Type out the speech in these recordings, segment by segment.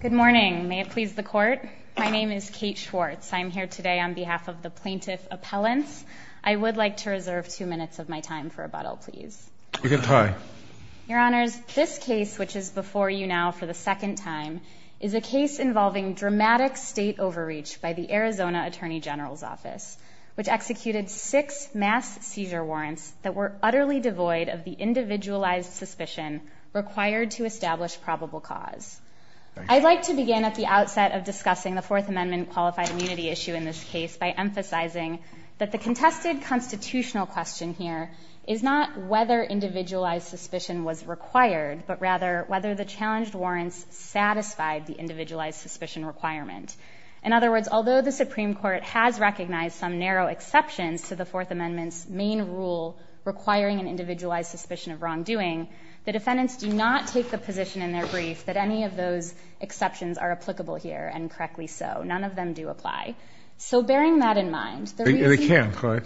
Good morning. May it please the court? My name is Kate Schwartz. I'm here today on behalf of the Plaintiff Appellants. I would like to reserve two minutes of my time for rebuttal, please. You can try. Your Honors, this case, which is before you now for the second time, is a case involving dramatic state overreach by the Arizona Attorney General's Office, which executed six mass seizure warrants that were utterly devoid of the individualized suspicion required to establish probable cause. I'd like to begin at the outset of discussing the Fourth Amendment qualified immunity issue in this case by emphasizing that the contested constitutional question here is not whether individualized suspicion was required, but rather whether the challenged warrants satisfied the individualized suspicion requirement. In other words, although the Supreme Court has recognized some narrow exceptions to the Fourth Amendment's main rule requiring an individualized suspicion of wrongdoing, the defendants do not take the position in their brief that any of those exceptions are applicable here, and correctly so. None of them do apply. So bearing that in mind, the reason— They can't, right?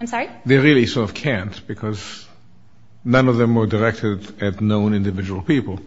I'm sorry? They really sort of can't because none of them were directed at known individual people.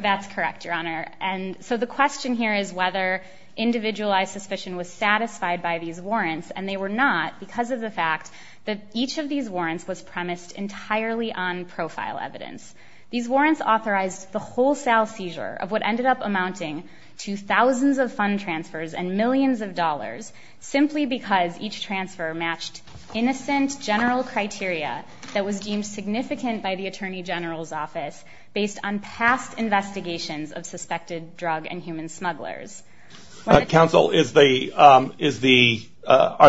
That's correct, Your Honor. And so the question here is whether individualized suspicion was satisfied by these warrants, and they were not because of the fact that each of these warrants was premised entirely on profile evidence. These warrants authorized the wholesale seizure of what ended up amounting to thousands of fund transfers and millions of dollars simply because each transfer matched innocent general criteria that was deemed significant by the Attorney General's office based on past investigations of suspected drug and human smugglers. Counsel, are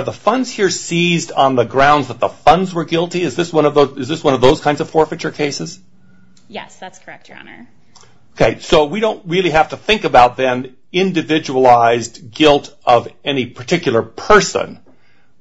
the funds here seized on the grounds that the funds were guilty? Is this one of those kinds of forfeiture cases? Yes, that's correct, Your Honor. Okay, so we don't really have to think about then individualized guilt of any particular person.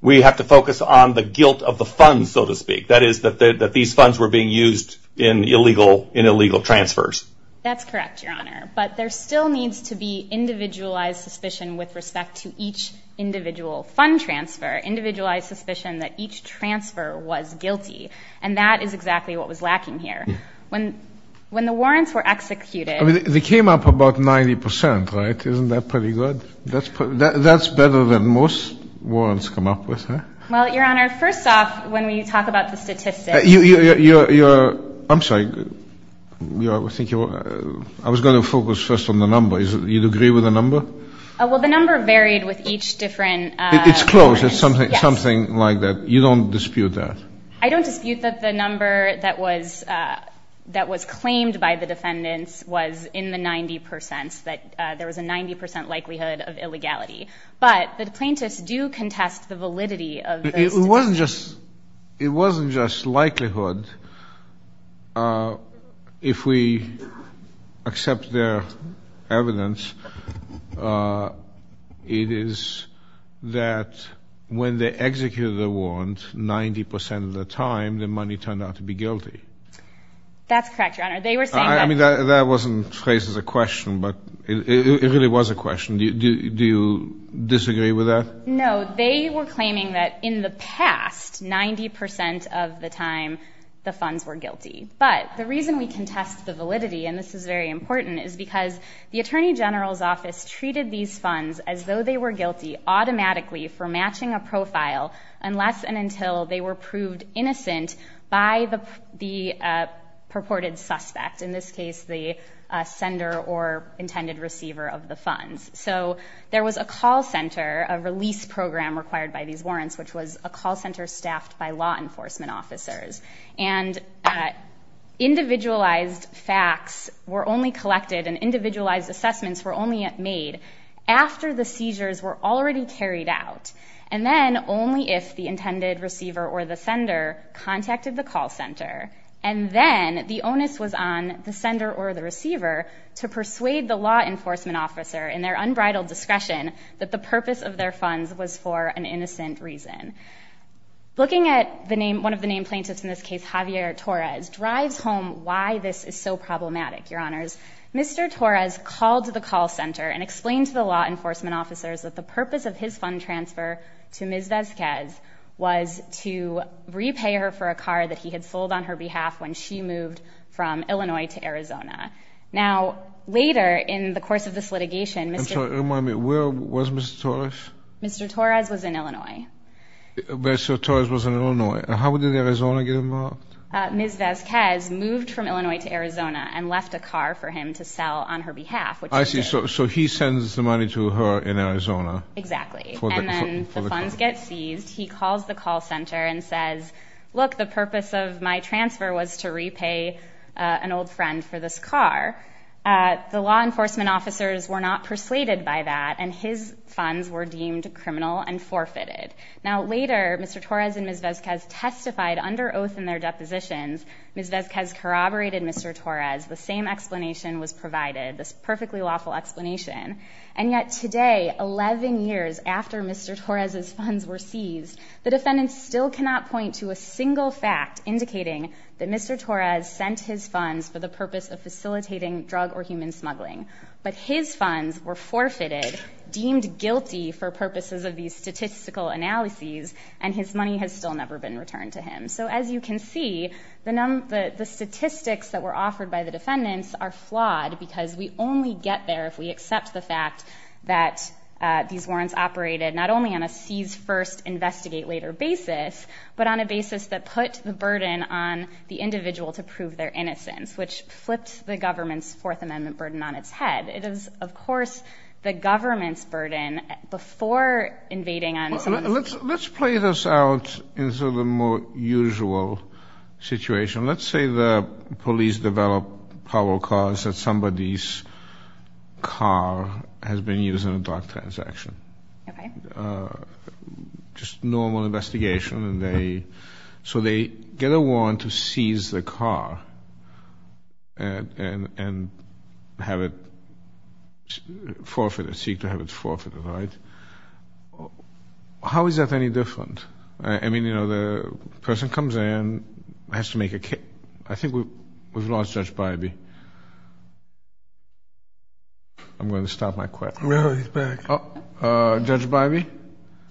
We have to focus on the guilt of the funds, so to speak. That is, that these funds were being used in illegal transfers. That's correct, Your Honor, but there still needs to be individualized suspicion with respect to each individual fund transfer, individualized suspicion that each transfer was guilty, and that is exactly what was lacking here. When the warrants were executed... I mean, they came up about 90%, right? Isn't that pretty good? That's better than most warrants come up with, huh? Well, Your Honor, first off, when we talk about the statistics... I'm sorry. I was going to focus first on the number. Do you agree with the number? Well, the number varied with each different... It's close. It's something like that. You don't dispute that? I don't dispute that the number that was claimed by the defendants was in the 90%, that there was a 90% likelihood of illegality, but the plaintiffs do contest the validity of the statistics. It wasn't just likelihood. If we accept their evidence, it is that when they executed the warrant 90% of the time, the money turned out to be guilty. That's correct, Your Honor. They were saying that... I mean, that wasn't phrased as a question, but it really was a question. Do you disagree with that? No. They were claiming that in the past, 90% of the time, the funds were guilty. But the reason we contest the validity, and this is very important, is because the Attorney General's Office treated these funds as though they were guilty automatically for matching a profile unless and until they were proved innocent by the purported suspect, in this case, the sender or intended receiver of the funds. So there was a call center, a release program required by these warrants, which was a call center staffed by law enforcement officers. And individualized facts were only collected and individualized assessments were only made after the seizures were already carried out, and then only if the intended receiver or the sender contacted the call center. And then the onus was on the sender or the receiver to persuade the law enforcement officer, in their unbridled discretion, that the purpose of their funds was for an innocent reason. Looking at one of the named plaintiffs in this case, Javier Torres, drives home why this is so problematic, Your Honors. Mr. Torres called the call center and explained to the law enforcement officers that the purpose of his fund transfer to Ms. Vazquez was to repay her for a car that he had sold on her behalf when she moved from Illinois to Arizona. Now, later in the course of this litigation, Mr. I'm sorry, remind me, where was Mr. Torres? Mr. Torres was in Illinois. Mr. Torres was in Illinois. How did Arizona get involved? Ms. Vazquez moved from Illinois to Arizona and left a car for him to sell on her behalf. I see. So he sends the money to her in Arizona. Exactly. And then the funds get seized. He calls the call center and says, look, the purpose of my transfer was to repay an old friend for this car. The law enforcement officers were not persuaded by that, and his funds were deemed criminal and forfeited. Now, later, Mr. Torres and Ms. Vazquez testified under oath in their depositions. Ms. Vazquez corroborated Mr. Torres. The same explanation was provided, this perfectly lawful explanation. And yet today, 11 years after Mr. Torres's funds were seized, the defendants still cannot point to a single fact indicating that Mr. Torres sent his funds for the purpose of facilitating drug or human smuggling. But his funds were forfeited, deemed guilty for purposes of these statistical analyses, and his money has still never been returned to him. So as you can see, the statistics that were offered by the defendants are flawed because we only get there if we accept the fact that these warrants operated not only on a seize first, investigate later basis, but on a basis that put the burden on the individual to prove their innocence, which flips the government's Fourth Amendment burden on its head. It is, of course, the government's burden before invading on its own. Let's play this out into the more usual situation. Let's say the police develop power cards that somebody's car has been used in a drug transaction. Just normal investigation. So they get a warrant to seize the car and have it forfeited, seek to have it forfeited, right? How is that any different? I mean, you know, the person comes in, has to make a case. I think we've lost Judge Bybee. I'm going to stop my question. No, he's back. Judge Bybee?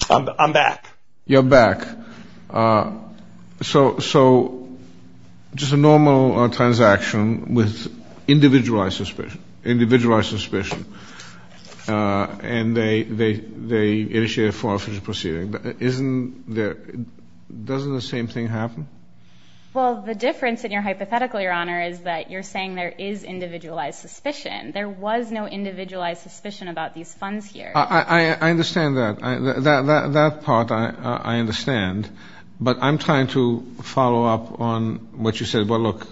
I'm back. You're back. So just a normal transaction with individualized suspicion and they initiate a forfeiture proceeding. Doesn't the same thing happen? Well, the difference in your hypothetical, Your Honor, is that you're saying there is individualized suspicion. There was no individualized suspicion about these funds here. I understand that. That part I understand. But I'm trying to follow up on what you said. Well, look,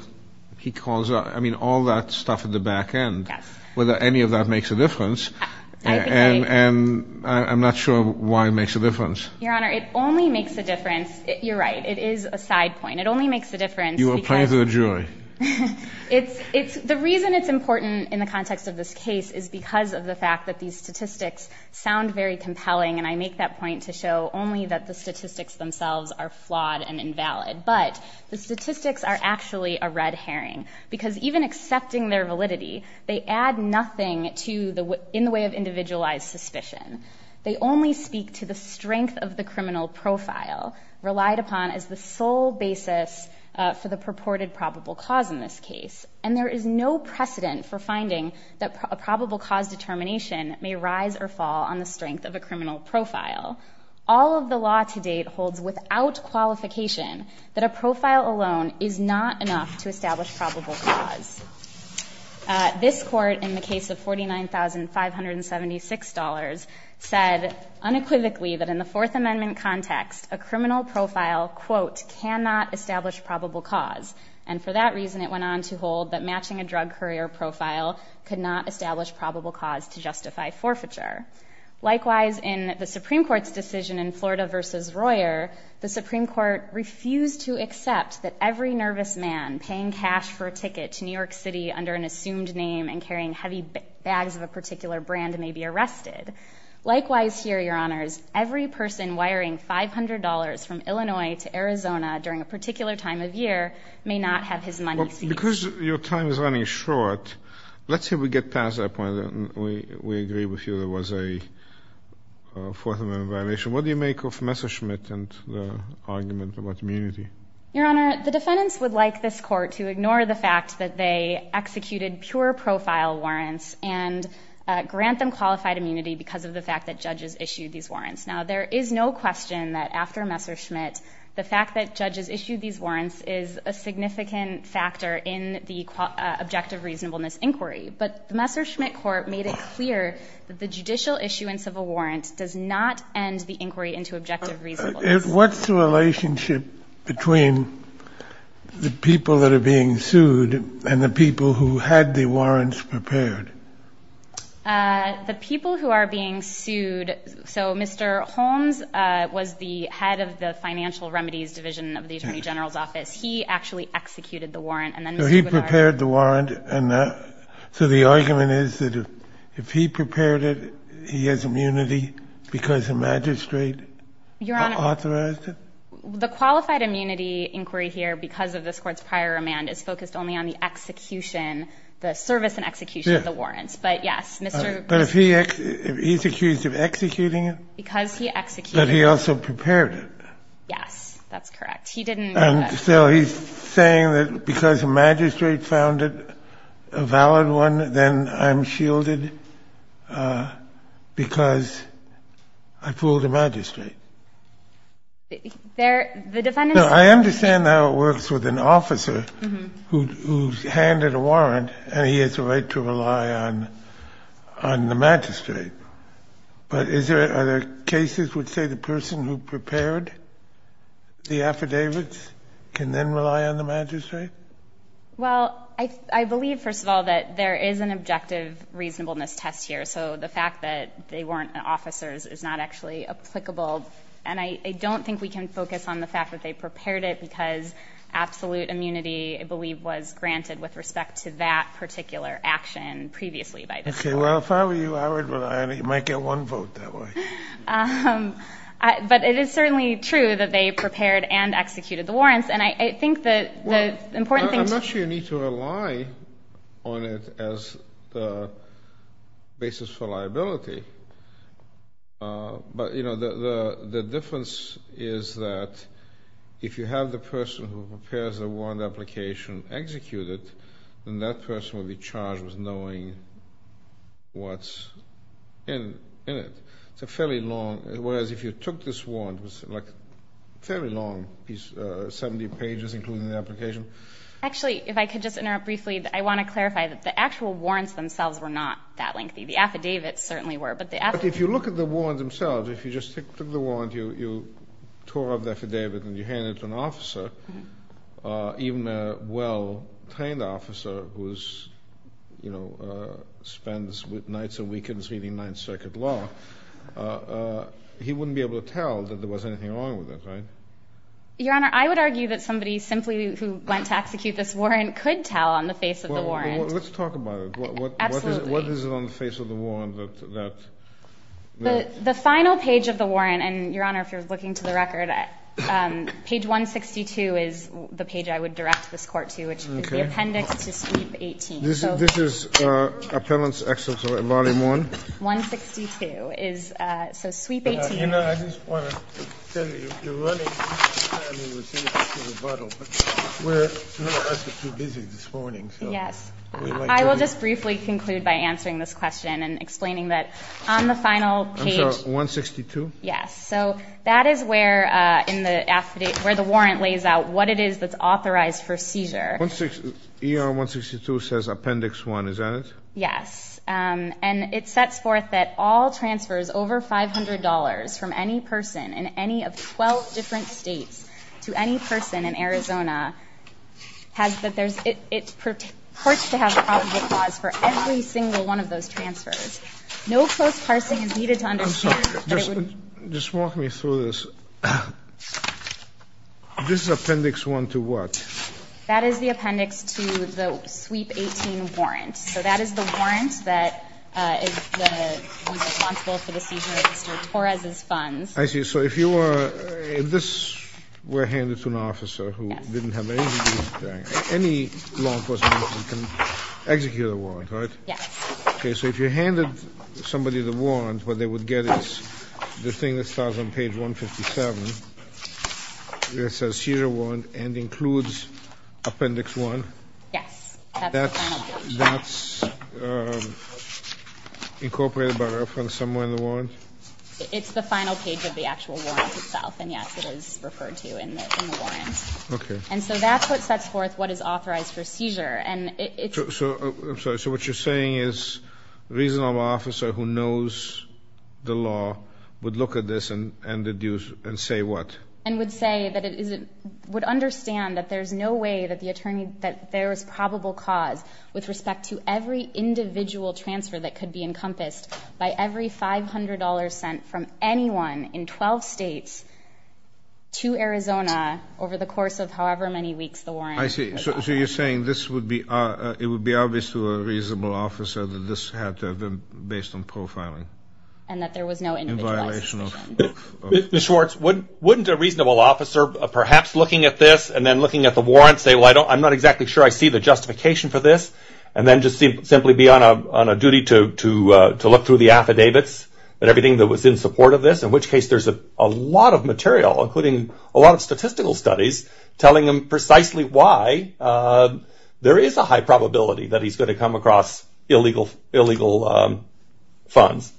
he calls out, I mean, all that stuff at the back end, whether any of that makes a difference. And I'm not sure why it makes a difference. Your Honor, it only makes a difference. You're right. It is a side point. It only makes a difference. You were playing to the jury. The reason it's important in the context of this case is because of the fact that these statistics sound very compelling, and I make that point to show only that the statistics themselves are flawed and invalid. But the statistics are actually a red herring because even accepting their validity, they add nothing in the way of individualized suspicion. They only speak to the strength of the criminal profile relied upon as the sole basis for the purported probable cause in this case. And there is no precedent for finding that a probable cause determination may rise or fall on the strength of a criminal profile. All of the law to date holds without qualification that a profile alone is not enough to establish probable cause. This court, in the case of $49,576, said unequivocally that in the Fourth Amendment context, a criminal profile, quote, cannot establish probable cause. And for that reason, it went on to hold that matching a drug courier profile could not establish probable cause to justify forfeiture. Likewise, in the Supreme Court's decision in Florida v. Royer, the Supreme Court refused to accept that every nervous man paying cash for a ticket to New York City under an assumed name and carrying heavy bags of a particular brand may be arrested. Likewise here, Your Honors, every person wiring $500 from Illinois to Arizona during a particular time of year may not have his money seized. Because your time is running short, let's say we get past that point. We agree with you there was a Fourth Amendment violation. What do you make of Messerschmitt and the argument about immunity? Your Honor, the defendants would like this court to ignore the fact that they executed pure profile warrants and grant them qualified immunity because of the fact that judges issued these warrants. Now, there is no question that after Messerschmitt, the fact that judges issued these warrants is a significant factor in the objective reasonableness inquiry. But the Messerschmitt court made it clear that the judicial issuance of a warrant does not end the inquiry into objective reasonableness. What's the relationship between the people that are being sued and the people who had the warrants prepared? The people who are being sued. So Mr. Holmes was the head of the Financial Remedies Division of the Attorney General's office. He actually executed the warrant. So he prepared the warrant. So the argument is that if he prepared it, he has immunity because the magistrate authorized it? Your Honor, the qualified immunity inquiry here, because of this court's prior remand, is focused only on the execution, the service and execution of the warrants. But yes, Mr. — But if he's accused of executing it? Because he executed it. But he also prepared it. Yes, that's correct. He didn't — So he's saying that because the magistrate found it a valid one, then I'm shielded because I fooled the magistrate? The defendant's — No, I understand how it works with an officer who's handed a warrant, and he has a right to rely on the magistrate. But are there cases which say the person who prepared the affidavits can then rely on the magistrate? Well, I believe, first of all, that there is an objective reasonableness test here. So the fact that they weren't officers is not actually applicable. And I don't think we can focus on the fact that they prepared it because absolute immunity, I believe, was granted with respect to that particular action previously by this court. Okay, well, if I were you, I might get one vote that way. But it is certainly true that they prepared and executed the warrants. And I think the important thing — Well, I'm not sure you need to rely on it as the basis for liability. But, you know, the difference is that if you have the person who prepares the warrant application execute it, then that person will be charged with knowing what's in it. It's a fairly long — whereas if you took this warrant, it was like a fairly long piece, 70 pages, including the application. Actually, if I could just interrupt briefly, I want to clarify that the actual warrants themselves were not that lengthy. The affidavits certainly were. But if you look at the warrants themselves, if you just took the warrant, you tore up the affidavit, and you hand it to an officer, even a well-trained officer who spends nights and weekends reading Ninth Circuit law, he wouldn't be able to tell that there was anything wrong with it, right? Your Honor, I would argue that somebody simply who went to execute this warrant could tell on the face of the warrant. Well, let's talk about it. Absolutely. What is it on the face of the warrant that — The final page of the warrant, and, Your Honor, if you're looking to the record, page 162 is the page I would direct this Court to, which is the appendix to Sweep 18. This is Appellant's Excellency, Volume 1? 162 is — so Sweep 18. You know, I just want to tell you, you're running — I mean, we're sitting here through the bottle, but none of us are too busy this morning, so — Yes. I will just briefly conclude by answering this question and explaining that on the final page — I'm sorry, 162? Yes. So that is where the warrant lays out what it is that's authorized for seizure. ER 162 says Appendix 1, is that it? Yes. And it sets forth that all transfers over $500 from any person in any of 12 different states to any person in Arizona has that there's — it purports to have a probable cause for every single one of those transfers. No post-parsing is needed to understand that it would — I'm sorry. Just walk me through this. This is Appendix 1 to what? That is the appendix to the Sweep 18 warrant. So that is the warrant that is responsible for the seizure of Mr. Torres's funds. I see. So if you were — if this were handed to an officer who didn't have any — any law enforcement officer can execute a warrant, right? Yes. Okay, so if you handed somebody the warrant, what they would get is the thing that starts on page 157. It says Seizure Warrant and includes Appendix 1. Yes, that's the final page. That's incorporated by reference somewhere in the warrant? It's the final page of the actual warrant itself, and, yes, it is referred to in the warrant. Okay. And so that's what sets forth what is authorized for seizure. And it's — I'm sorry. So what you're saying is a reasonable officer who knows the law would look at this and deduce — and say what? And would say that it is — would understand that there's no way that the attorney — in 12 states to Arizona over the course of however many weeks the warrant was filed. I see. So you're saying this would be — it would be obvious to a reasonable officer that this had to have been based on profiling. And that there was no individualized submission. In violation of — Mr. Schwartz, wouldn't a reasonable officer perhaps looking at this and then looking at the warrant say, well, I don't — I'm not exactly sure I see the justification for this, and then just simply be on a duty to look through the affidavits and everything that was in support of this? In which case there's a lot of material, including a lot of statistical studies, telling him precisely why there is a high probability that he's going to come across illegal funds.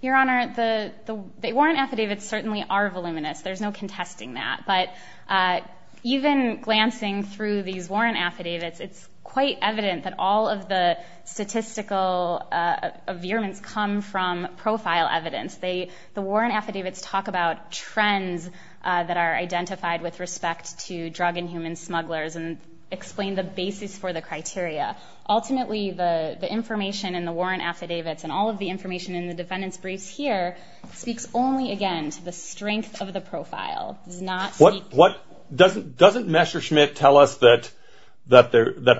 Your Honor, the warrant affidavits certainly are voluminous. There's no contesting that. But even glancing through these warrant affidavits, it's quite evident that all of the statistical veerments come from profile evidence. The warrant affidavits talk about trends that are identified with respect to drug and human smugglers and explain the basis for the criteria. Ultimately, the information in the warrant affidavits and all of the information in the defendant's briefs here speaks only, again, to the strength of the profile. It does not speak — What — doesn't Messerschmitt tell us that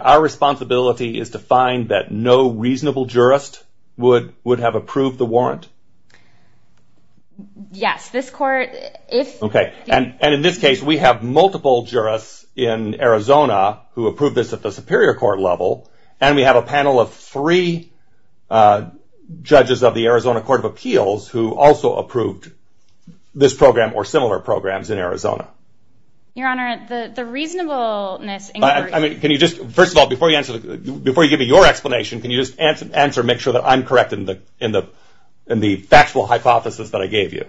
our responsibility is to find that no reasonable jurist would have approved the warrant? Yes. This court, if — Okay. And in this case, we have multiple jurists in Arizona who approved this at the superior court level, and we have a panel of three judges of the Arizona Court of Appeals who also approved this program or similar programs in Arizona. Your Honor, the reasonableness — I mean, can you just — first of all, before you give me your explanation, can you just answer and make sure that I'm correct in the factual hypothesis that I gave you?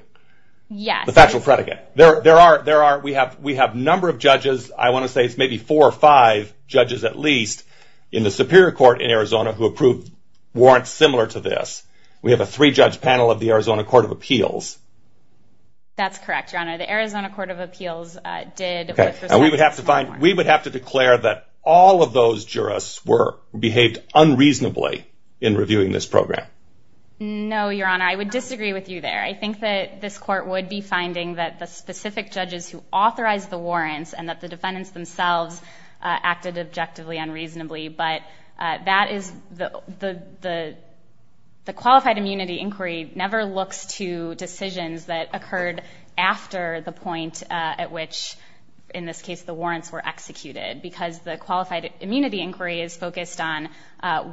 Yes. The factual predicate. There are — we have a number of judges. I want to say it's maybe four or five judges at least in the superior court in Arizona who approved warrants similar to this. We have a three-judge panel of the Arizona Court of Appeals. That's correct, Your Honor. The Arizona Court of Appeals did with respect to — Okay. And we would have to find — we would have to declare that all of those jurists were — behaved unreasonably in reviewing this program. No, Your Honor. I would disagree with you there. I think that this court would be finding that the specific judges who authorized the warrants and that the defendants themselves acted objectively unreasonably, but that is — the qualified immunity inquiry never looks to decisions that occurred after the point at which, in this case, the warrants were executed because the qualified immunity inquiry is focused on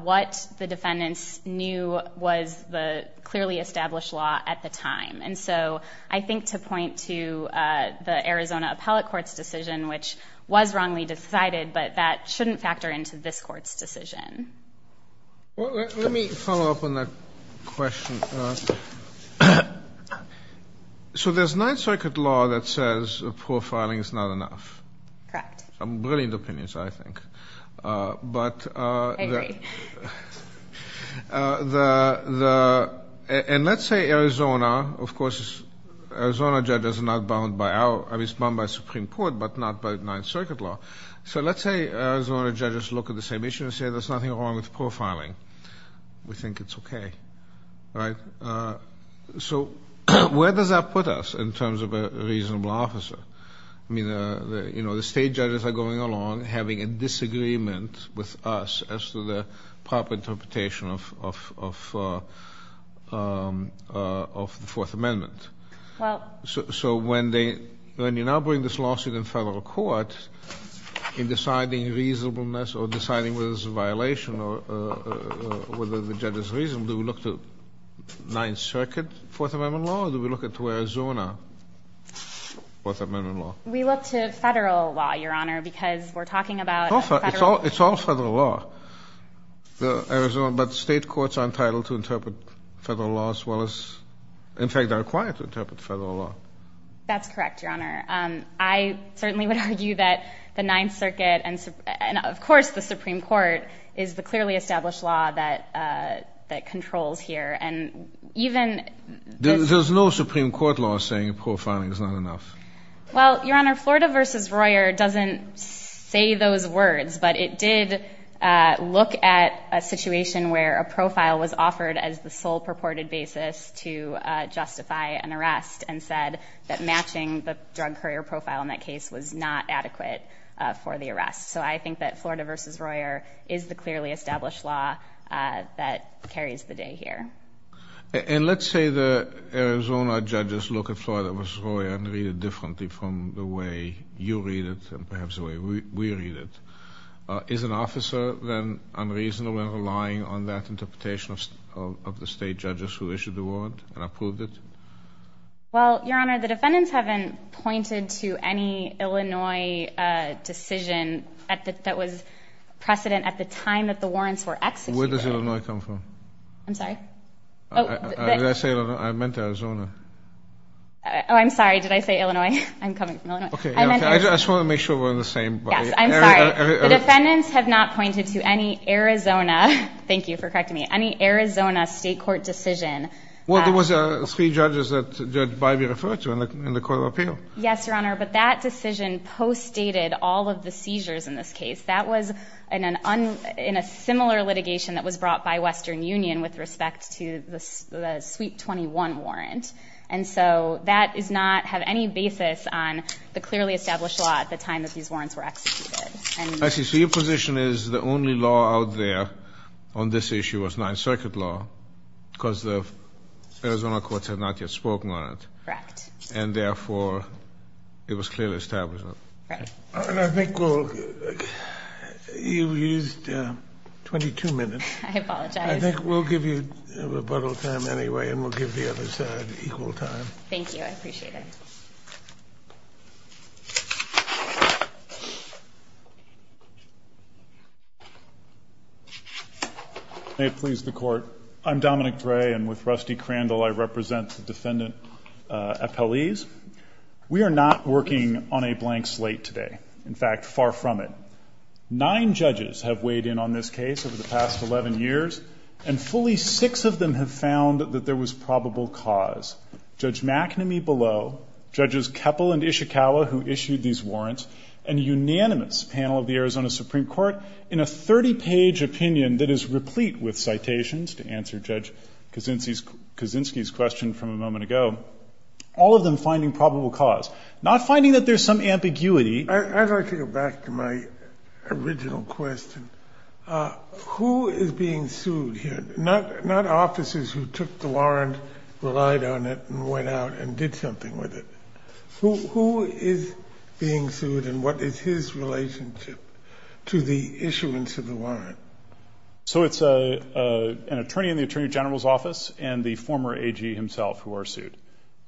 what the defendants knew was the clearly established law at the time. And so I think to point to the Arizona Appellate Court's decision, which was wrongly decided, but that shouldn't factor into this court's decision. Let me follow up on that question. So there's Ninth Circuit law that says profiling is not enough. Correct. Some brilliant opinions, I think. I agree. And let's say Arizona, of course, Arizona judges are not bound by our — I mean, it's bound by Supreme Court, but not by Ninth Circuit law. So let's say Arizona judges look at the same issue and say there's nothing wrong with profiling. We think it's okay. So where does that put us in terms of a reasonable officer? I mean, you know, the state judges are going along having a disagreement with us as to the proper interpretation of the Fourth Amendment. Well — So when they — when you now bring this lawsuit in federal court in deciding reasonableness or deciding whether it's a violation or whether the judges reason, do we look to Ninth Circuit Fourth Amendment law or do we look to Arizona Fourth Amendment law? We look to federal law, Your Honor, because we're talking about — It's all federal law, Arizona, but state courts are entitled to interpret federal law as well as — in fact, they're required to interpret federal law. That's correct, Your Honor. I certainly would argue that the Ninth Circuit and, of course, the Supreme Court is the clearly established law that controls here. There's no Supreme Court law saying profiling is not enough. Well, Your Honor, Florida v. Royer doesn't say those words, but it did look at a situation where a profile was offered as the sole purported basis to justify an arrest and said that matching the drug courier profile in that case was not adequate for the arrest. So I think that Florida v. Royer is the clearly established law that carries the day here. And let's say the Arizona judges look at Florida v. Royer and read it differently from the way you read it and perhaps the way we read it. Is an officer then unreasonable in relying on that interpretation of the state judges who issued the warrant and approved it? Well, Your Honor, the defendants haven't pointed to any Illinois decision that was precedent at the time that the warrants were executed. Where does Illinois come from? I'm sorry? I meant Arizona. Oh, I'm sorry. Did I say Illinois? I'm coming from Illinois. I just want to make sure we're on the same page. Yes, I'm sorry. The defendants have not pointed to any Arizona — thank you for correcting me — any Arizona state court decision. Well, there was three judges that Judge Bybee referred to in the court of appeal. Yes, Your Honor, but that decision post-stated all of the seizures in this case. That was in a similar litigation that was brought by Western Union with respect to the Sweet 21 warrant. And so that does not have any basis on the clearly established law at the time that these warrants were executed. I see. So your position is the only law out there on this issue was Ninth Circuit law because the Arizona courts had not yet spoken on it. Correct. And therefore, it was clearly established on it. Right. And I think we'll — you used 22 minutes. I apologize. I think we'll give you rebuttal time anyway, and we'll give the other side equal time. Thank you. I appreciate it. May it please the Court. I'm Dominic Gray, and with Rusty Crandall, I represent the defendant appellees. We are not working on a blank slate today. In fact, far from it. Nine judges have weighed in on this case over the past 11 years, and fully six of them have found that there was probable cause. Judge McNamee below, Judges Keppel and Ishikawa, who issued these warrants, and a unanimous panel of the Arizona Supreme Court in a 30-page opinion that is replete with citations to answer Judge Kaczynski's question from a moment ago, all of them finding probable cause. Not finding that there's some ambiguity. I'd like to go back to my original question. Who is being sued here? Not officers who took the warrant, relied on it, and went out and did something with it. Who is being sued, and what is his relationship to the issuance of the warrant? So it's an attorney in the Attorney General's office and the former AG himself who are sued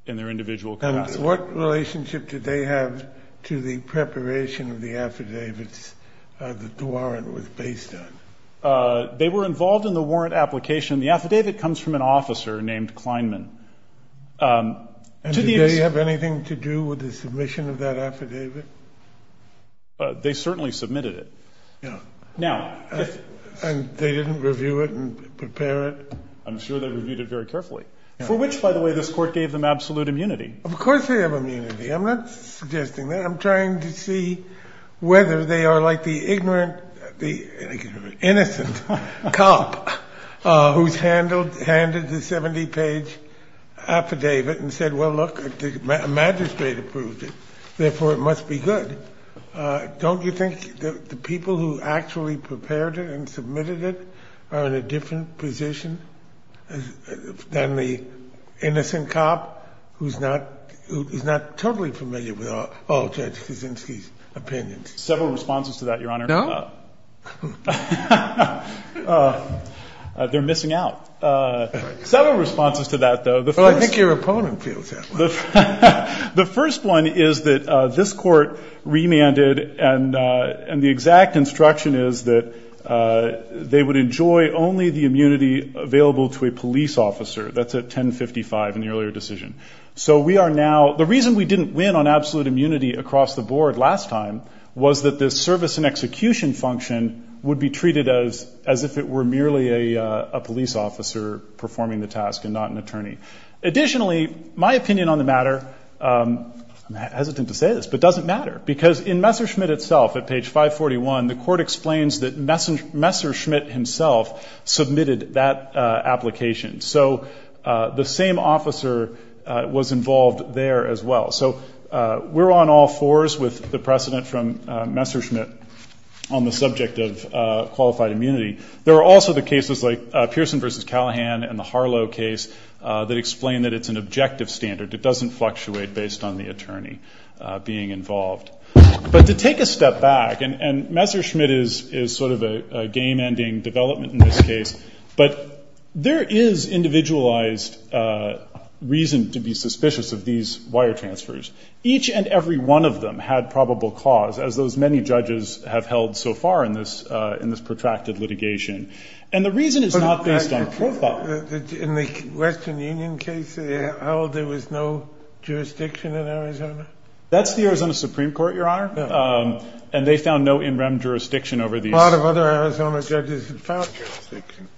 in their individual capacity. What relationship did they have to the preparation of the affidavits that the warrant was based on? They were involved in the warrant application. The affidavit comes from an officer named Kleinman. Did they have anything to do with the submission of that affidavit? They certainly submitted it. And they didn't review it and prepare it? I'm sure they reviewed it very carefully, for which, by the way, this court gave them absolute immunity. Of course they have immunity. I'm not suggesting that. I'm trying to see whether they are like the ignorant, the innocent cop who's handed the 70-page affidavit and said, Well, look, the magistrate approved it, therefore it must be good. Don't you think the people who actually prepared it and submitted it are in a different position than the innocent cop who's not totally familiar with all Judge Kaczynski's opinions? Several responses to that, Your Honor. No? They're missing out. Several responses to that, though. Well, I think your opponent feels that way. The first one is that this court remanded and the exact instruction is that they would enjoy only the immunity available to a police officer. That's at 1055 in the earlier decision. So we are now the reason we didn't win on absolute immunity across the board last time was that the service and execution function would be treated as if it were merely a police officer performing the task and not an attorney. Additionally, my opinion on the matter, I'm hesitant to say this, but it doesn't matter because in Messerschmitt itself, at page 541, the court explains that Messerschmitt himself submitted that application. So the same officer was involved there as well. So we're on all fours with the precedent from Messerschmitt on the subject of qualified immunity. There are also the cases like Pearson v. Callahan and the Harlow case that explain that it's an objective standard. It doesn't fluctuate based on the attorney being involved. But to take a step back, and Messerschmitt is sort of a game-ending development in this case, but there is individualized reason to be suspicious of these wire transfers. Each and every one of them had probable cause, as those many judges have held so far in this protracted litigation. And the reason is not based on profile. In the Western Union case, there was no jurisdiction in Arizona? That's the Arizona Supreme Court, Your Honor. And they found no in-rem jurisdiction over these. A lot of other Arizona judges have found jurisdiction.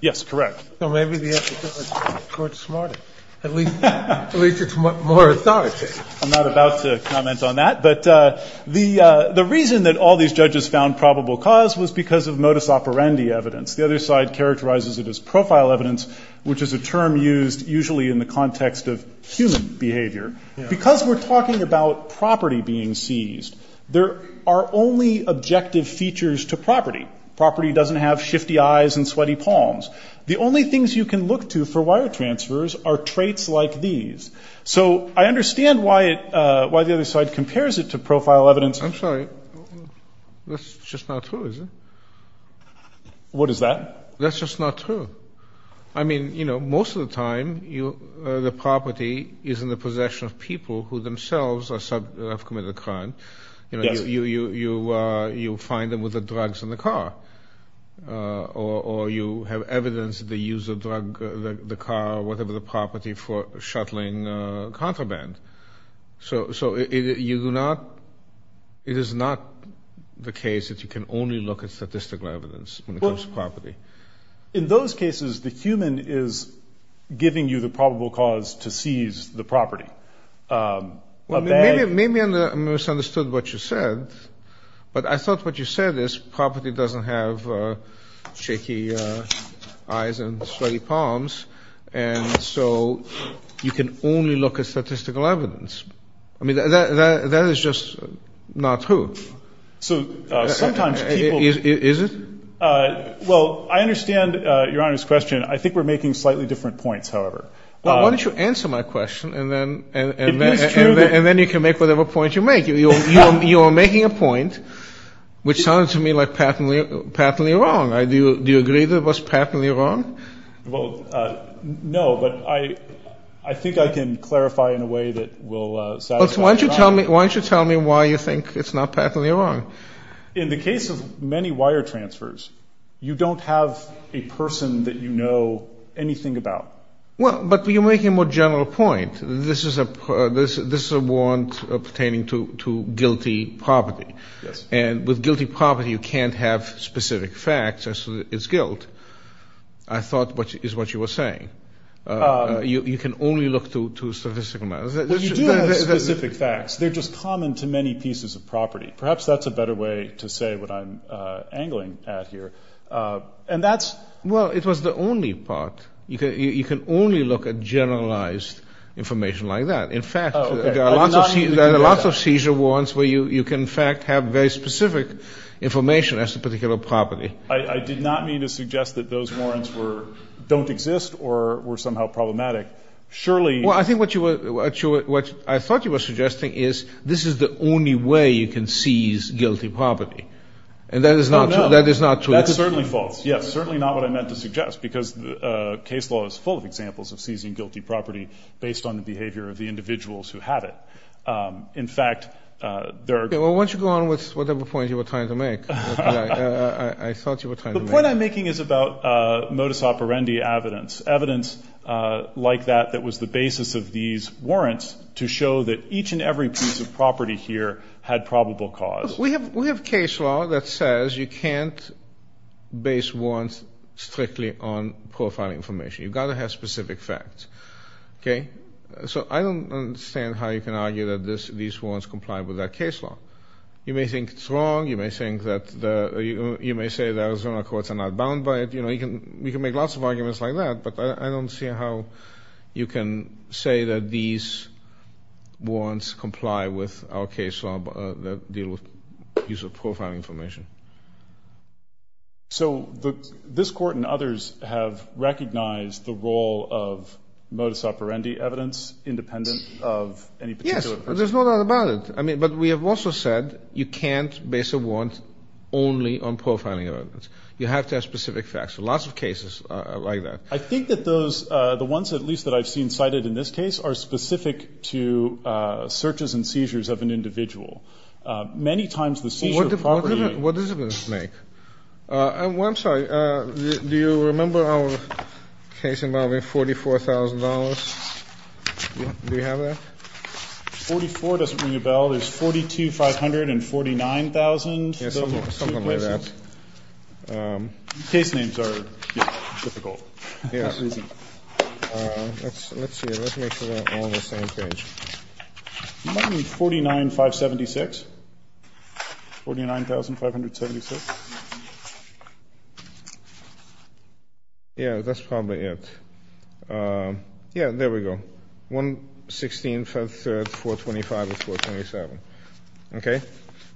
Yes, correct. Well, maybe the court's smarter. At least it's more authoritative. I'm not about to comment on that. But the reason that all these judges found probable cause was because of modus operandi evidence. The other side characterizes it as profile evidence, which is a term used usually in the context of human behavior. Because we're talking about property being seized, there are only objective features to property. Property doesn't have shifty eyes and sweaty palms. The only things you can look to for wire transfers are traits like these. So I understand why the other side compares it to profile evidence. I'm sorry. That's just not true, is it? What is that? That's just not true. I mean, you know, most of the time the property is in the possession of people who themselves have committed a crime. Yes. You find them with the drugs in the car. Or you have evidence of the use of the car or whatever the property for shuttling contraband. So it is not the case that you can only look at statistical evidence when it comes to property. In those cases, the human is giving you the probable cause to seize the property. Maybe I misunderstood what you said, but I thought what you said is property doesn't have shaky eyes and sweaty palms. And so you can only look at statistical evidence. I mean, that is just not true. So sometimes people. Is it? Well, I understand Your Honor's question. I think we're making slightly different points, however. Why don't you answer my question and then and then you can make whatever point you make. You're making a point which sounds to me like patently wrong. I do. Do you agree that it was patently wrong? Well, no, but I think I can clarify in a way that will. Why don't you tell me? Why don't you tell me why you think it's not patently wrong? In the case of many wire transfers, you don't have a person that you know anything about. Well, but you make a more general point. This is a warrant pertaining to guilty property. Yes. And with guilty property, you can't have specific facts as to its guilt. I thought is what you were saying. You can only look to statistical matters. They're just common to many pieces of property. Perhaps that's a better way to say what I'm angling at here, and that's. Well, it was the only part. You can only look at generalized information like that. In fact, there are lots of seizure warrants where you can in fact have very specific information as to particular property. I did not mean to suggest that those warrants don't exist or were somehow problematic. Well, I think what I thought you were suggesting is this is the only way you can seize guilty property, and that is not true. That's certainly false. Yes, certainly not what I meant to suggest because case law is full of examples of seizing guilty property based on the behavior of the individuals who have it. In fact, there are. Why don't you go on with whatever point you were trying to make? I thought you were trying to make. The point I'm making is about modus operandi evidence. Evidence like that that was the basis of these warrants to show that each and every piece of property here had probable cause. We have case law that says you can't base warrants strictly on profile information. You've got to have specific facts. Okay? So I don't understand how you can argue that these warrants comply with that case law. You may think it's wrong. You may say that Arizona courts are not bound by it. We can make lots of arguments like that, but I don't see how you can say that these warrants comply with our case law that deal with profiling information. So this court and others have recognized the role of modus operandi evidence independent of any particular person? Yes, there's no doubt about it. But we have also said you can't base a warrant only on profiling evidence. You have to have specific facts. So lots of cases like that. I think that those, the ones at least that I've seen cited in this case, are specific to searches and seizures of an individual. Many times the seizure of property. What does this make? I'm sorry. Do you remember our case involving $44,000? Do we have that? 44 doesn't ring a bell. There's 42,500 and 49,000. Something like that. Case names are difficult. Let's see. Let's make sure they're all on the same page. 49,576? 49,576? Yeah, that's probably it. Yeah, there we go. 116, 425, 427. Okay?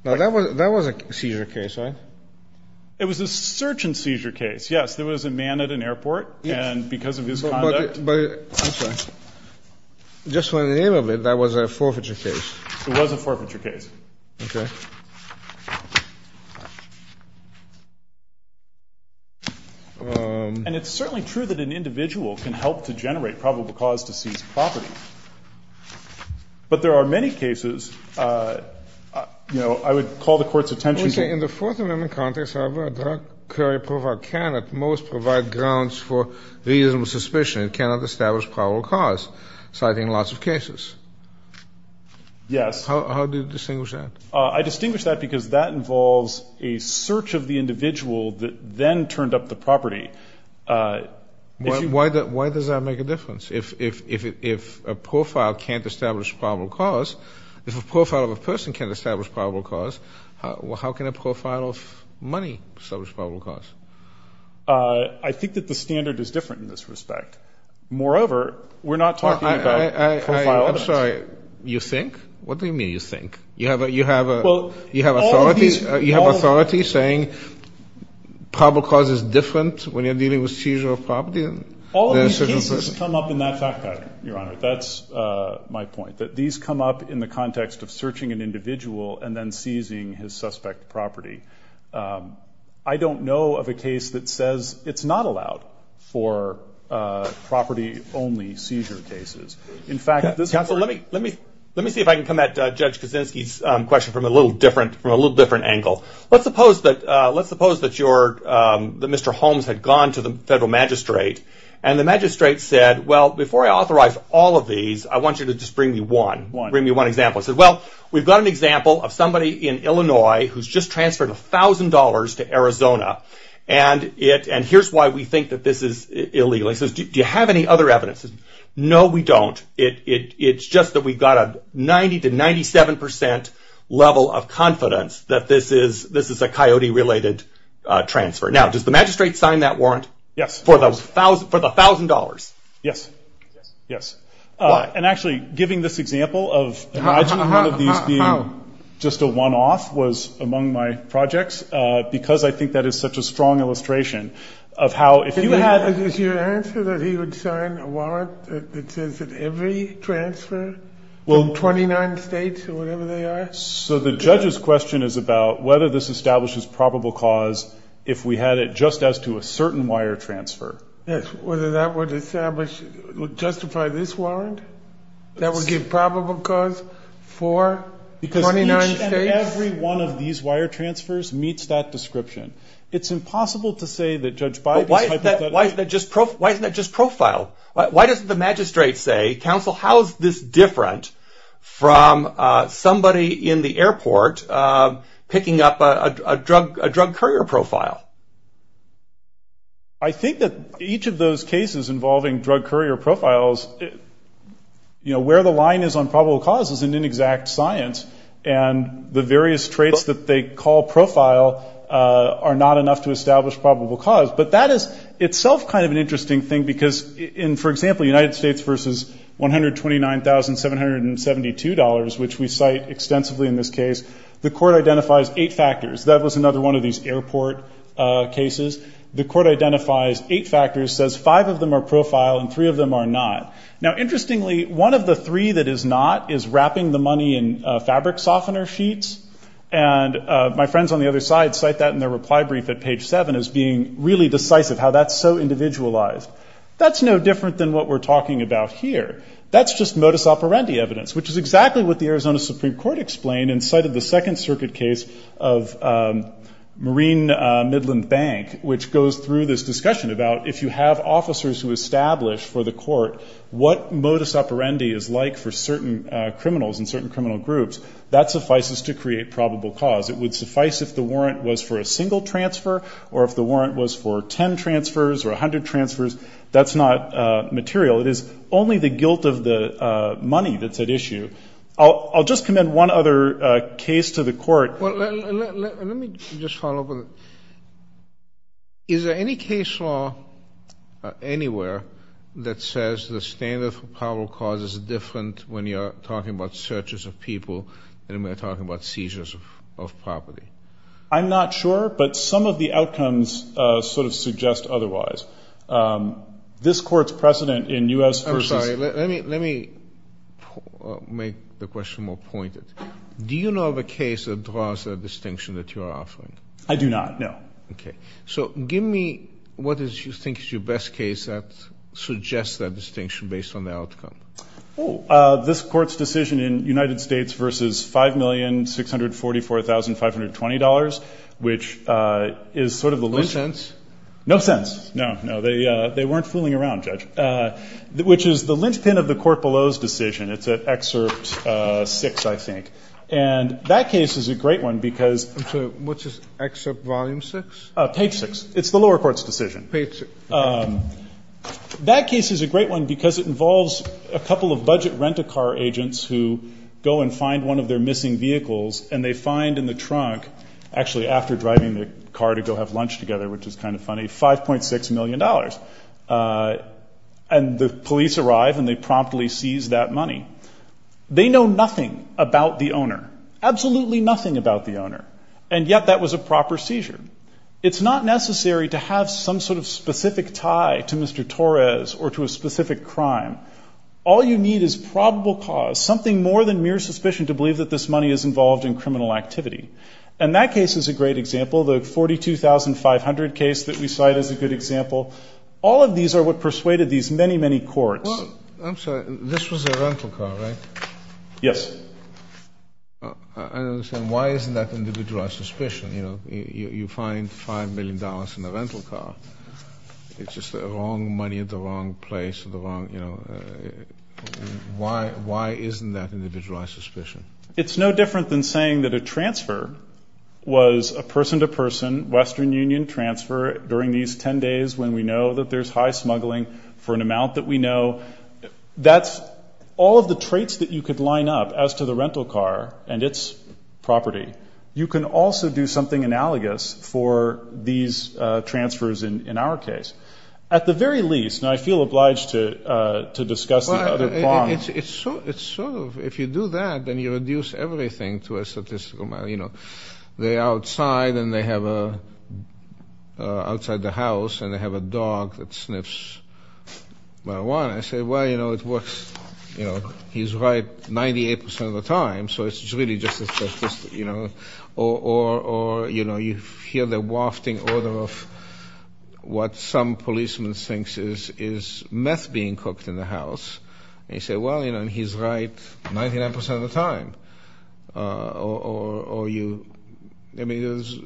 Now, that was a seizure case, right? It was a search and seizure case, yes. There was a man at an airport, and because of his conduct. I'm sorry. Just for the name of it, that was a forfeiture case. It was a forfeiture case. Okay. And it's certainly true that an individual can help to generate probable cause to seize property. But there are many cases, you know, I would call the court's attention to. Okay. In the Fourth Amendment context, however, a drug courier can, at most, provide grounds for reasonable suspicion and cannot establish probable cause, citing lots of cases. Yes. How do you distinguish that? I distinguish that because that involves a search of the individual that then turned up the property. Why does that make a difference? If a profile can't establish probable cause, if a profile of a person can't establish probable cause, how can a profile of money establish probable cause? I think that the standard is different in this respect. Moreover, we're not talking about profile evidence. I'm sorry. You think? What do you mean, you think? You have authority saying probable cause is different when you're dealing with seizure of property? All of these cases come up in that fact pattern, Your Honor. That's my point, that these come up in the context of searching an individual and then seizing his suspect property. I don't know of a case that says it's not allowed for property-only seizure cases. Counsel, let me see if I can come at Judge Kaczynski's question from a little different angle. Let's suppose that Mr. Holmes had gone to the federal magistrate, and the magistrate said, well, before I authorize all of these, I want you to just bring me one. Bring me one example. He said, well, we've got an example of somebody in Illinois who's just transferred $1,000 to Arizona, and here's why we think that this is illegal. He says, do you have any other evidence? No, we don't. It's just that we've got a 90% to 97% level of confidence that this is a coyote-related transfer. Now, does the magistrate sign that warrant for the $1,000? Yes. Yes. And actually, giving this example of imagining one of these being just a one-off was among my projects, because I think that is such a strong illustration of how, if you had... Is your answer that he would sign a warrant that says that every transfer from 29 states or whatever they are? So the judge's question is about whether this establishes probable cause if we had it just as to a certain wire transfer. Yes. Whether that would justify this warrant that would give probable cause for 29 states? Because each and every one of these wire transfers meets that description. It's impossible to say that Judge Bybee's hypothetical... But why isn't that just profile? Why doesn't the magistrate say, counsel, how is this different from somebody in the airport picking up a drug courier profile? I think that each of those cases involving drug courier profiles, where the line is on probable cause is an inexact science, and the various traits that they call profile are not enough to establish probable cause. But that is itself kind of an interesting thing, because in, for example, United States versus $129,772, which we cite extensively in this case, the court identifies eight factors. That was another one of these airport cases. The court identifies eight factors, says five of them are profile and three of them are not. Now, interestingly, one of the three that is not is wrapping the money in fabric softener sheets, and my friends on the other side cite that in their reply brief at page seven as being really decisive, how that's so individualized. That's no different than what we're talking about here. That's just modus operandi evidence, which is exactly what the Arizona Supreme Court explained and cited the Second Circuit case of Marine Midland Bank, which goes through this discussion about if you have officers who establish for the court what modus operandi is like for certain criminals and certain criminal groups, that suffices to create probable cause. It would suffice if the warrant was for a single transfer or if the warrant was for 10 transfers or 100 transfers. That's not material. It is only the guilt of the money that's at issue. I'll just commend one other case to the court. Let me just follow up with it. Is there any case law anywhere that says the standard for probable cause is different when you're talking about searches of people than when you're talking about seizures of property? I'm not sure, but some of the outcomes sort of suggest otherwise. This Court's precedent in U.S. v. I'm sorry. Let me make the question more pointed. Do you know of a case that draws that distinction that you're offering? I do not, no. Okay. So give me what you think is your best case that suggests that distinction based on the outcome. Oh, this Court's decision in United States v. $5,644,520, which is sort of the lynchpin. No sense? No sense. No, no. They weren't fooling around, Judge, which is the lynchpin of the court below's decision. It's at Excerpt 6, I think. And that case is a great one because I'm sorry. What's this, Excerpt Volume 6? Page 6. It's the lower court's decision. Page 6. That case is a great one because it involves a couple of budget rent-a-car agents who go and find one of their missing vehicles, and they find in the trunk, actually after driving the car to go have lunch together, which is kind of funny, $5.6 million. And the police arrive and they promptly seize that money. They know nothing about the owner. Absolutely nothing about the owner. And yet that was a proper seizure. It's not necessary to have some sort of specific tie to Mr. Torres or to a specific crime. All you need is probable cause, something more than mere suspicion to believe that this money is involved in criminal activity. And that case is a great example. The 42,500 case that we cite is a good example. All of these are what persuaded these many, many courts. Well, I'm sorry. This was a rental car, right? Yes. I understand. Why isn't that individualized suspicion? You know, you find $5 million in a rental car. It's just the wrong money at the wrong place at the wrong, you know. Why isn't that individualized suspicion? It's no different than saying that a transfer was a person-to-person Western Union transfer during these 10 days when we know that there's high smuggling for an amount that we know. That's all of the traits that you could line up as to the rental car and its property. You can also do something analogous for these transfers in our case. At the very least, and I feel obliged to discuss the other prong. It's sort of, if you do that, then you reduce everything to a statistical amount. You know, they're outside and they have a, outside the house, and they have a dog that sniffs marijuana. I say, well, you know, it works, you know, he's right 98% of the time, so it's really just a statistic, you know. Or, you know, you hear the wafting order of what some policeman thinks is meth being cooked in the house. And you say, well, you know, he's right 99% of the time. Or you, I mean, there's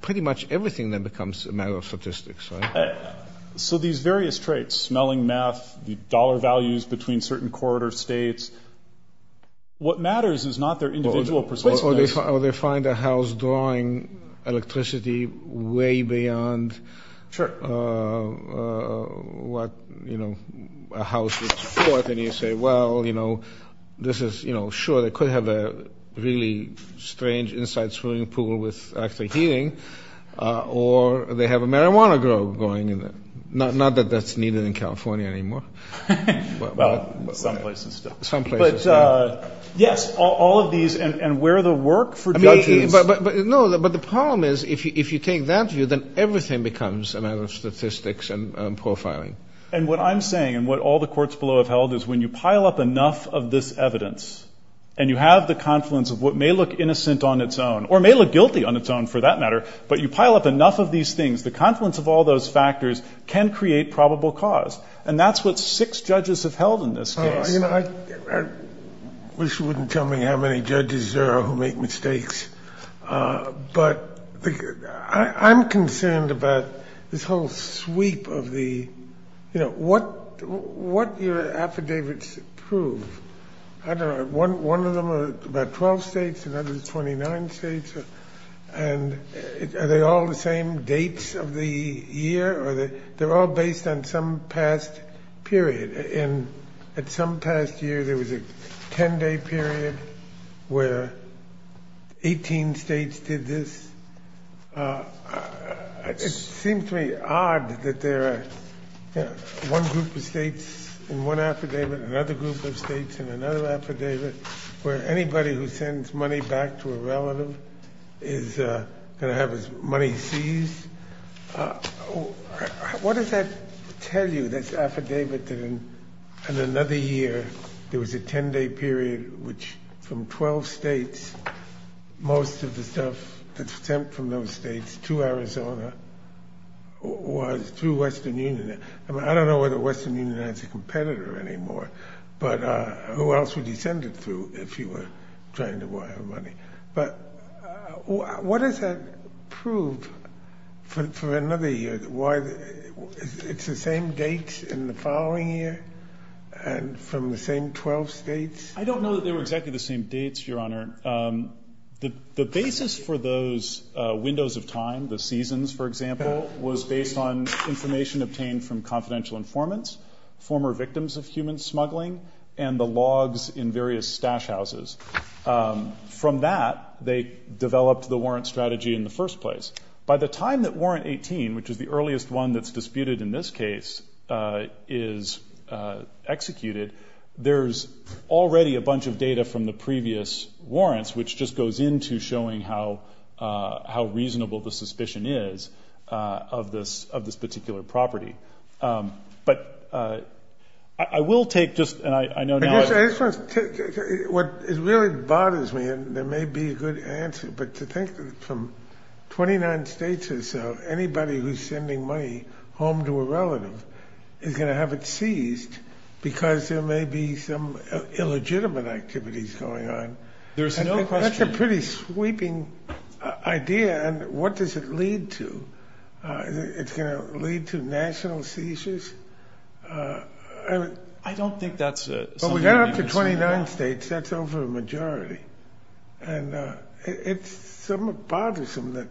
pretty much everything that becomes a matter of statistics, right? So these various traits, smelling meth, the dollar values between certain corridor states, what matters is not their individual persuasiveness. Or they find a house drawing electricity way beyond what, you know, a house would support. And you say, well, you know, this is, you know, sure, they could have a really strange inside swimming pool with actually heating. Or they have a marijuana grove going in there. Not that that's needed in California anymore. Well, some places still. Some places. Yes, all of these and where the work for judges. No, but the problem is if you take that view, then everything becomes a matter of statistics and profiling. And what I'm saying and what all the courts below have held is when you pile up enough of this evidence, and you have the confluence of what may look innocent on its own or may look guilty on its own for that matter, but you pile up enough of these things, the confluence of all those factors can create probable cause. And that's what six judges have held in this case. You know, I wish you wouldn't tell me how many judges there are who make mistakes. But I'm concerned about this whole sweep of the, you know, what your affidavits prove. I don't know. One of them are about 12 states. Another is 29 states. And are they all the same dates of the year? They're all based on some past period. And at some past year, there was a 10-day period where 18 states did this. It seems to me odd that there are one group of states in one affidavit, another group of states in another affidavit, where anybody who sends money back to a relative is going to have his money seized. What does that tell you, this affidavit that in another year there was a 10-day period which from 12 states, most of the stuff that was sent from those states to Arizona was through Western Union? I mean, I don't know whether Western Union has a competitor anymore, but who else would he send it through if he were trying to wire money? But what does that prove for another year? It's the same dates in the following year and from the same 12 states? I don't know that they were exactly the same dates, Your Honor. The basis for those windows of time, the seasons, for example, was based on information obtained from confidential informants, former victims of human smuggling, and the logs in various stash houses. From that, they developed the warrant strategy in the first place. By the time that Warrant 18, which is the earliest one that's disputed in this case, is executed, there's already a bunch of data from the previous warrants, which just goes into showing how reasonable the suspicion is of this particular property. But I will take just— It really bothers me, and there may be a good answer, but to think that from 29 states or so, anybody who's sending money home to a relative is going to have it seized because there may be some illegitimate activities going on. That's a pretty sweeping idea, and what does it lead to? It's going to lead to national seizures? I don't think that's something that you can say. But we got up to 29 states. That's over a majority. And it's somewhat bothersome that—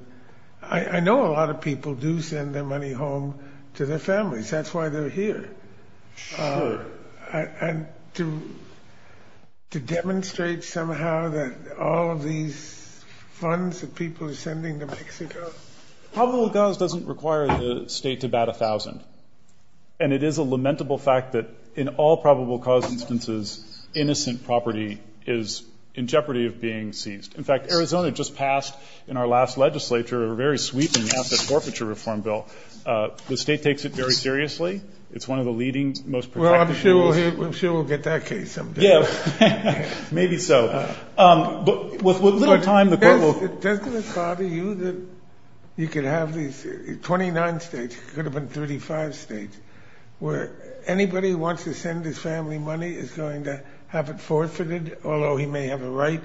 I know a lot of people do send their money home to their families. That's why they're here. Sure. And to demonstrate somehow that all of these funds that people are sending to Mexico— Well, probable cause doesn't require the state to bat 1,000, and it is a lamentable fact that in all probable cause instances, innocent property is in jeopardy of being seized. In fact, Arizona just passed in our last legislature a very sweeping asset forfeiture reform bill. The state takes it very seriously. It's one of the leading, most protected— Well, I'm sure we'll get that case someday. Maybe so. With little time, the court will— Doesn't it bother you that you could have these 29 states, could have been 35 states, where anybody who wants to send his family money is going to have it forfeited, although he may have a right,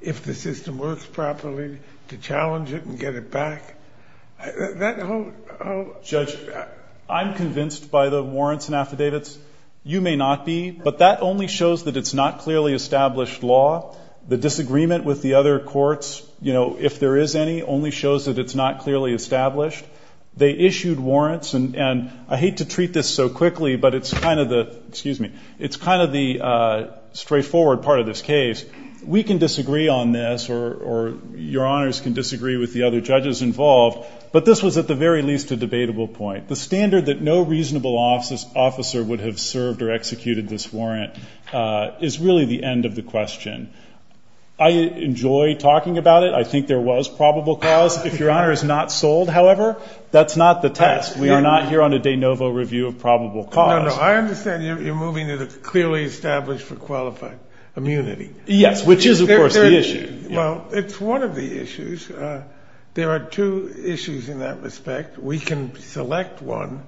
if the system works properly, to challenge it and get it back? Judge, I'm convinced by the warrants and affidavits. You may not be, but that only shows that it's not clearly established law. The disagreement with the other courts, if there is any, only shows that it's not clearly established. They issued warrants, and I hate to treat this so quickly, but it's kind of the straightforward part of this case. We can disagree on this, or your honors can disagree with the other judges involved, but this was at the very least a debatable point. The standard that no reasonable officer would have served or executed this warrant is really the end of the question. I enjoy talking about it. I think there was probable cause. If your honor is not sold, however, that's not the test. We are not here on a de novo review of probable cause. No, no. I understand you're moving to the clearly established for qualified immunity. Yes, which is, of course, the issue. Well, it's one of the issues. There are two issues in that respect. We can select one.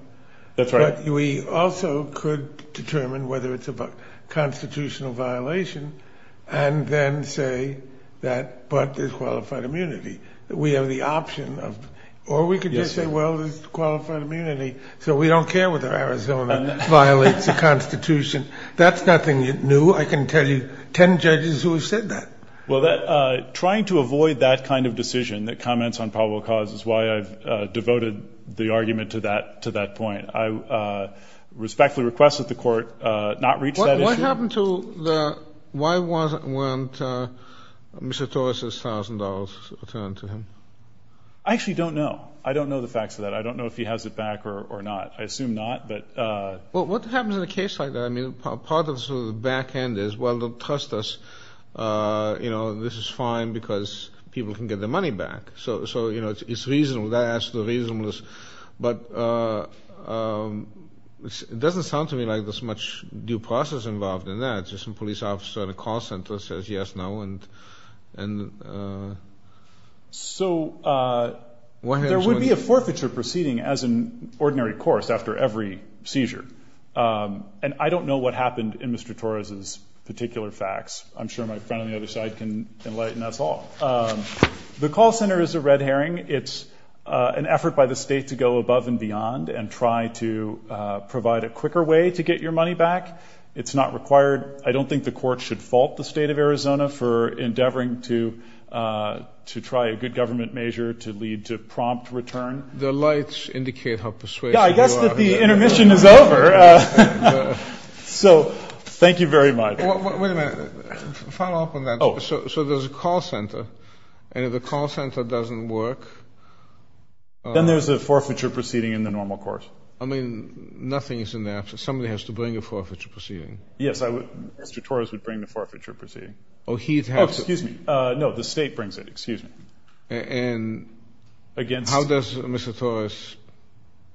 That's right. We also could determine whether it's a constitutional violation and then say that but there's qualified immunity. We have the option of, or we could just say, well, there's qualified immunity, so we don't care whether Arizona violates the Constitution. That's nothing new. I can tell you 10 judges who have said that. Well, trying to avoid that kind of decision that comments on probable cause is why I've devoted the argument to that point. I respectfully request that the court not reach that issue. What happened to the why wasn't Mr. Torres' $1,000 returned to him? I actually don't know. I don't know the facts of that. I don't know if he has it back or not. I assume not. Well, what happens in a case like that? I mean, part of the back end is, well, they'll trust us. This is fine because people can get their money back. So, you know, it's reasonable. That adds to the reasonableness. But it doesn't sound to me like there's much due process involved in that. Just some police officer at a call center says yes, no. So there would be a forfeiture proceeding as an ordinary course after every seizure. And I don't know what happened in Mr. Torres' particular facts. I'm sure my friend on the other side can enlighten us all. The call center is a red herring. It's an effort by the state to go above and beyond and try to provide a quicker way to get your money back. It's not required. I don't think the court should fault the state of Arizona for endeavoring to try a good government measure to lead to prompt return. The lights indicate how persuasive you are. Yeah, I guess that the intermission is over. So thank you very much. Wait a minute. Follow up on that. So there's a call center, and if the call center doesn't work. Then there's a forfeiture proceeding in the normal course. I mean, nothing is in the absence. Somebody has to bring a forfeiture proceeding. Yes, Mr. Torres would bring the forfeiture proceeding. Oh, he'd have to. Oh, excuse me. No, the state brings it. Excuse me. And how does Mr. Torres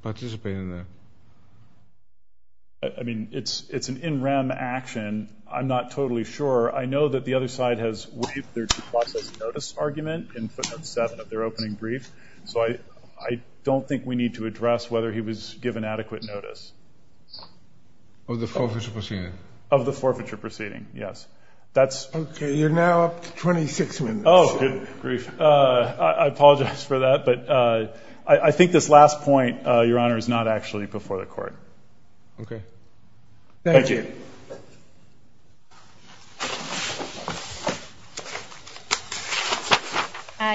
participate in that? I mean, it's an in rem action. I'm not totally sure. I know that the other side has waived their due process notice argument in footnote 7 of their opening brief. So I don't think we need to address whether he was given adequate notice. Of the forfeiture proceeding? Of the forfeiture proceeding, yes. Okay, you're now up to 26 minutes. Oh, good grief. I apologize for that, but I think this last point, Your Honor, is not actually before the court. Okay. Thank you. Thank you.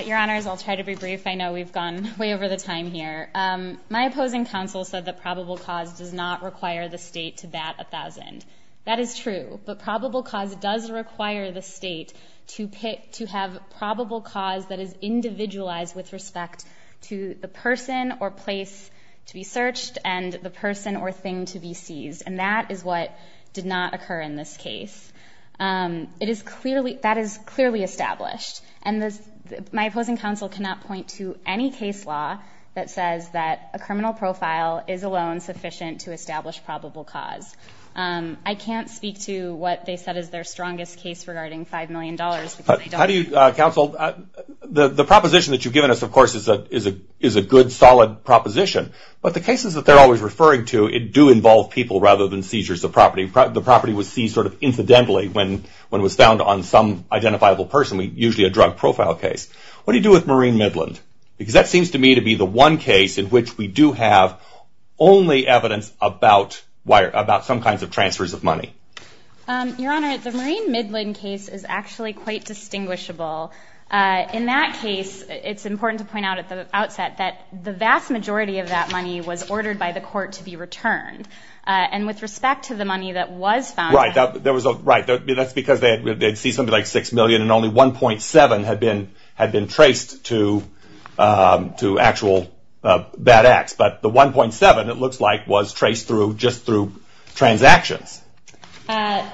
Your Honors, I'll try to be brief. I know we've gone way over the time here. My opposing counsel said that probable cause does not require the state to bat 1,000. That is true. But probable cause does require the state to have probable cause that is individualized with respect to the person or place to be searched and the person or thing to be seized. And that is what did not occur in this case. That is clearly established. And my opposing counsel cannot point to any case law that says that a criminal profile is alone sufficient to establish probable cause. I can't speak to what they said is their strongest case regarding $5 million. Counsel, the proposition that you've given us, of course, is a good, solid proposition. But the cases that they're always referring to, it do involve people rather than seizures of property. The property was seized sort of incidentally when it was found on some identifiable person. Usually a drug profile case. What do you do with Marine Midland? Because that seems to me to be the one case in which we do have only evidence about some kinds of transfers of money. Your Honor, the Marine Midland case is actually quite distinguishable. In that case, it's important to point out at the outset that the vast majority of that money was ordered by the court to be returned. And with respect to the money that was found. Right. That's because they'd see something like $6 million, and only $1.7 had been traced to actual bad acts. But the $1.7, it looks like, was traced just through transactions. I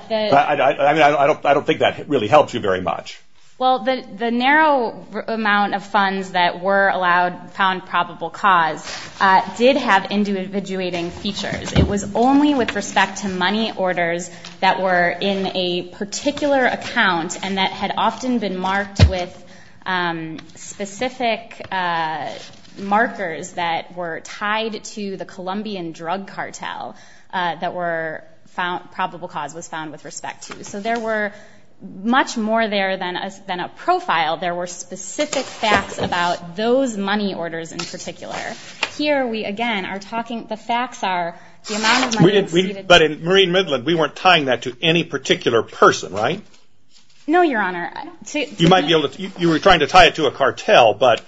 don't think that really helped you very much. Well, the narrow amount of funds that were allowed, found probable cause, did have individuating features. It was only with respect to money orders that were in a particular account and that had often been marked with specific markers that were tied to the Colombian drug cartel that probable cause was found with respect to. So there were much more there than a profile. There were specific facts about those money orders in particular. Here, we again are talking, the facts are, the amount of money received. But in Marine Midland, we weren't tying that to any particular person, right? No, Your Honor. You might be able to, you were trying to tie it to a cartel, but.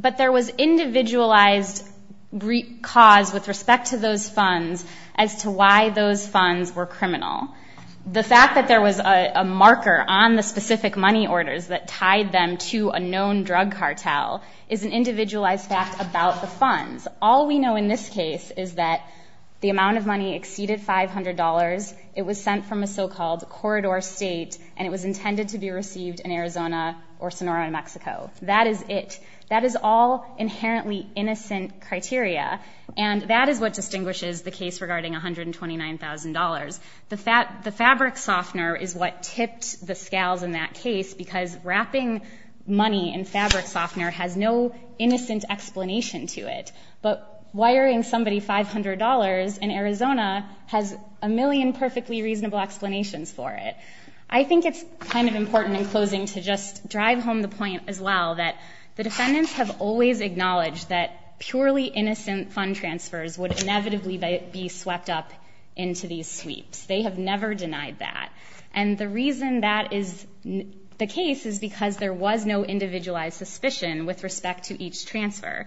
But there was individualized cause with respect to those funds as to why those funds were criminal. The fact that there was a marker on the specific money orders that tied them to a known drug cartel is an individualized fact about the funds. All we know in this case is that the amount of money exceeded $500. It was sent from a so-called corridor state, and it was intended to be received in Arizona or Sonora, New Mexico. That is it. That is all inherently innocent criteria, and that is what distinguishes the case regarding $129,000. The fabric softener is what tipped the scales in that case because wrapping money in fabric softener has no innocent explanation to it. But wiring somebody $500 in Arizona has a million perfectly reasonable explanations for it. I think it's kind of important in closing to just drive home the point as well that the defendants have always acknowledged that purely innocent fund transfers would inevitably be swept up into these sweeps. They have never denied that, and the reason that is the case is because there was no individualized suspicion with respect to each transfer.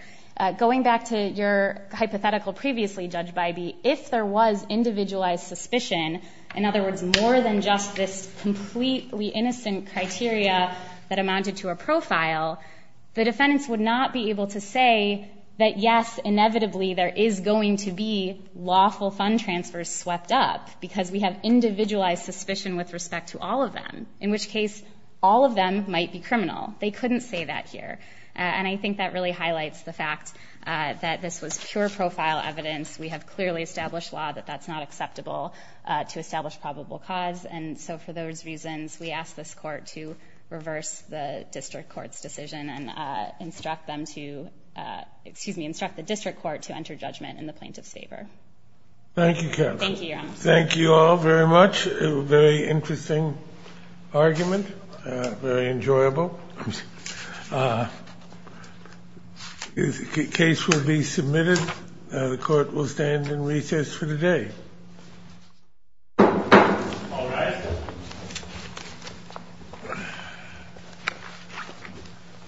Going back to your hypothetical previously, Judge Bybee, if there was individualized suspicion, in other words, more than just this completely innocent criteria that amounted to a profile, the defendants would not be able to say that, yes, inevitably, there is going to be lawful fund transfers swept up because we have individualized suspicion with respect to all of them, in which case all of them might be criminal. They couldn't say that here, and I think that really highlights the fact that this was pure profile evidence. We have clearly established law that that's not acceptable to establish probable cause, and so for those reasons we ask this court to reverse the district court's decision and instruct the district court to enter judgment in the plaintiff's favor. Thank you, counsel. Thank you, Your Honor. Thank you all very much. A very interesting argument, very enjoyable. The case will be submitted. The court will stand in recess for the day. All rise.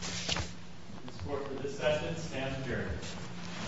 This court for this session stands adjourned.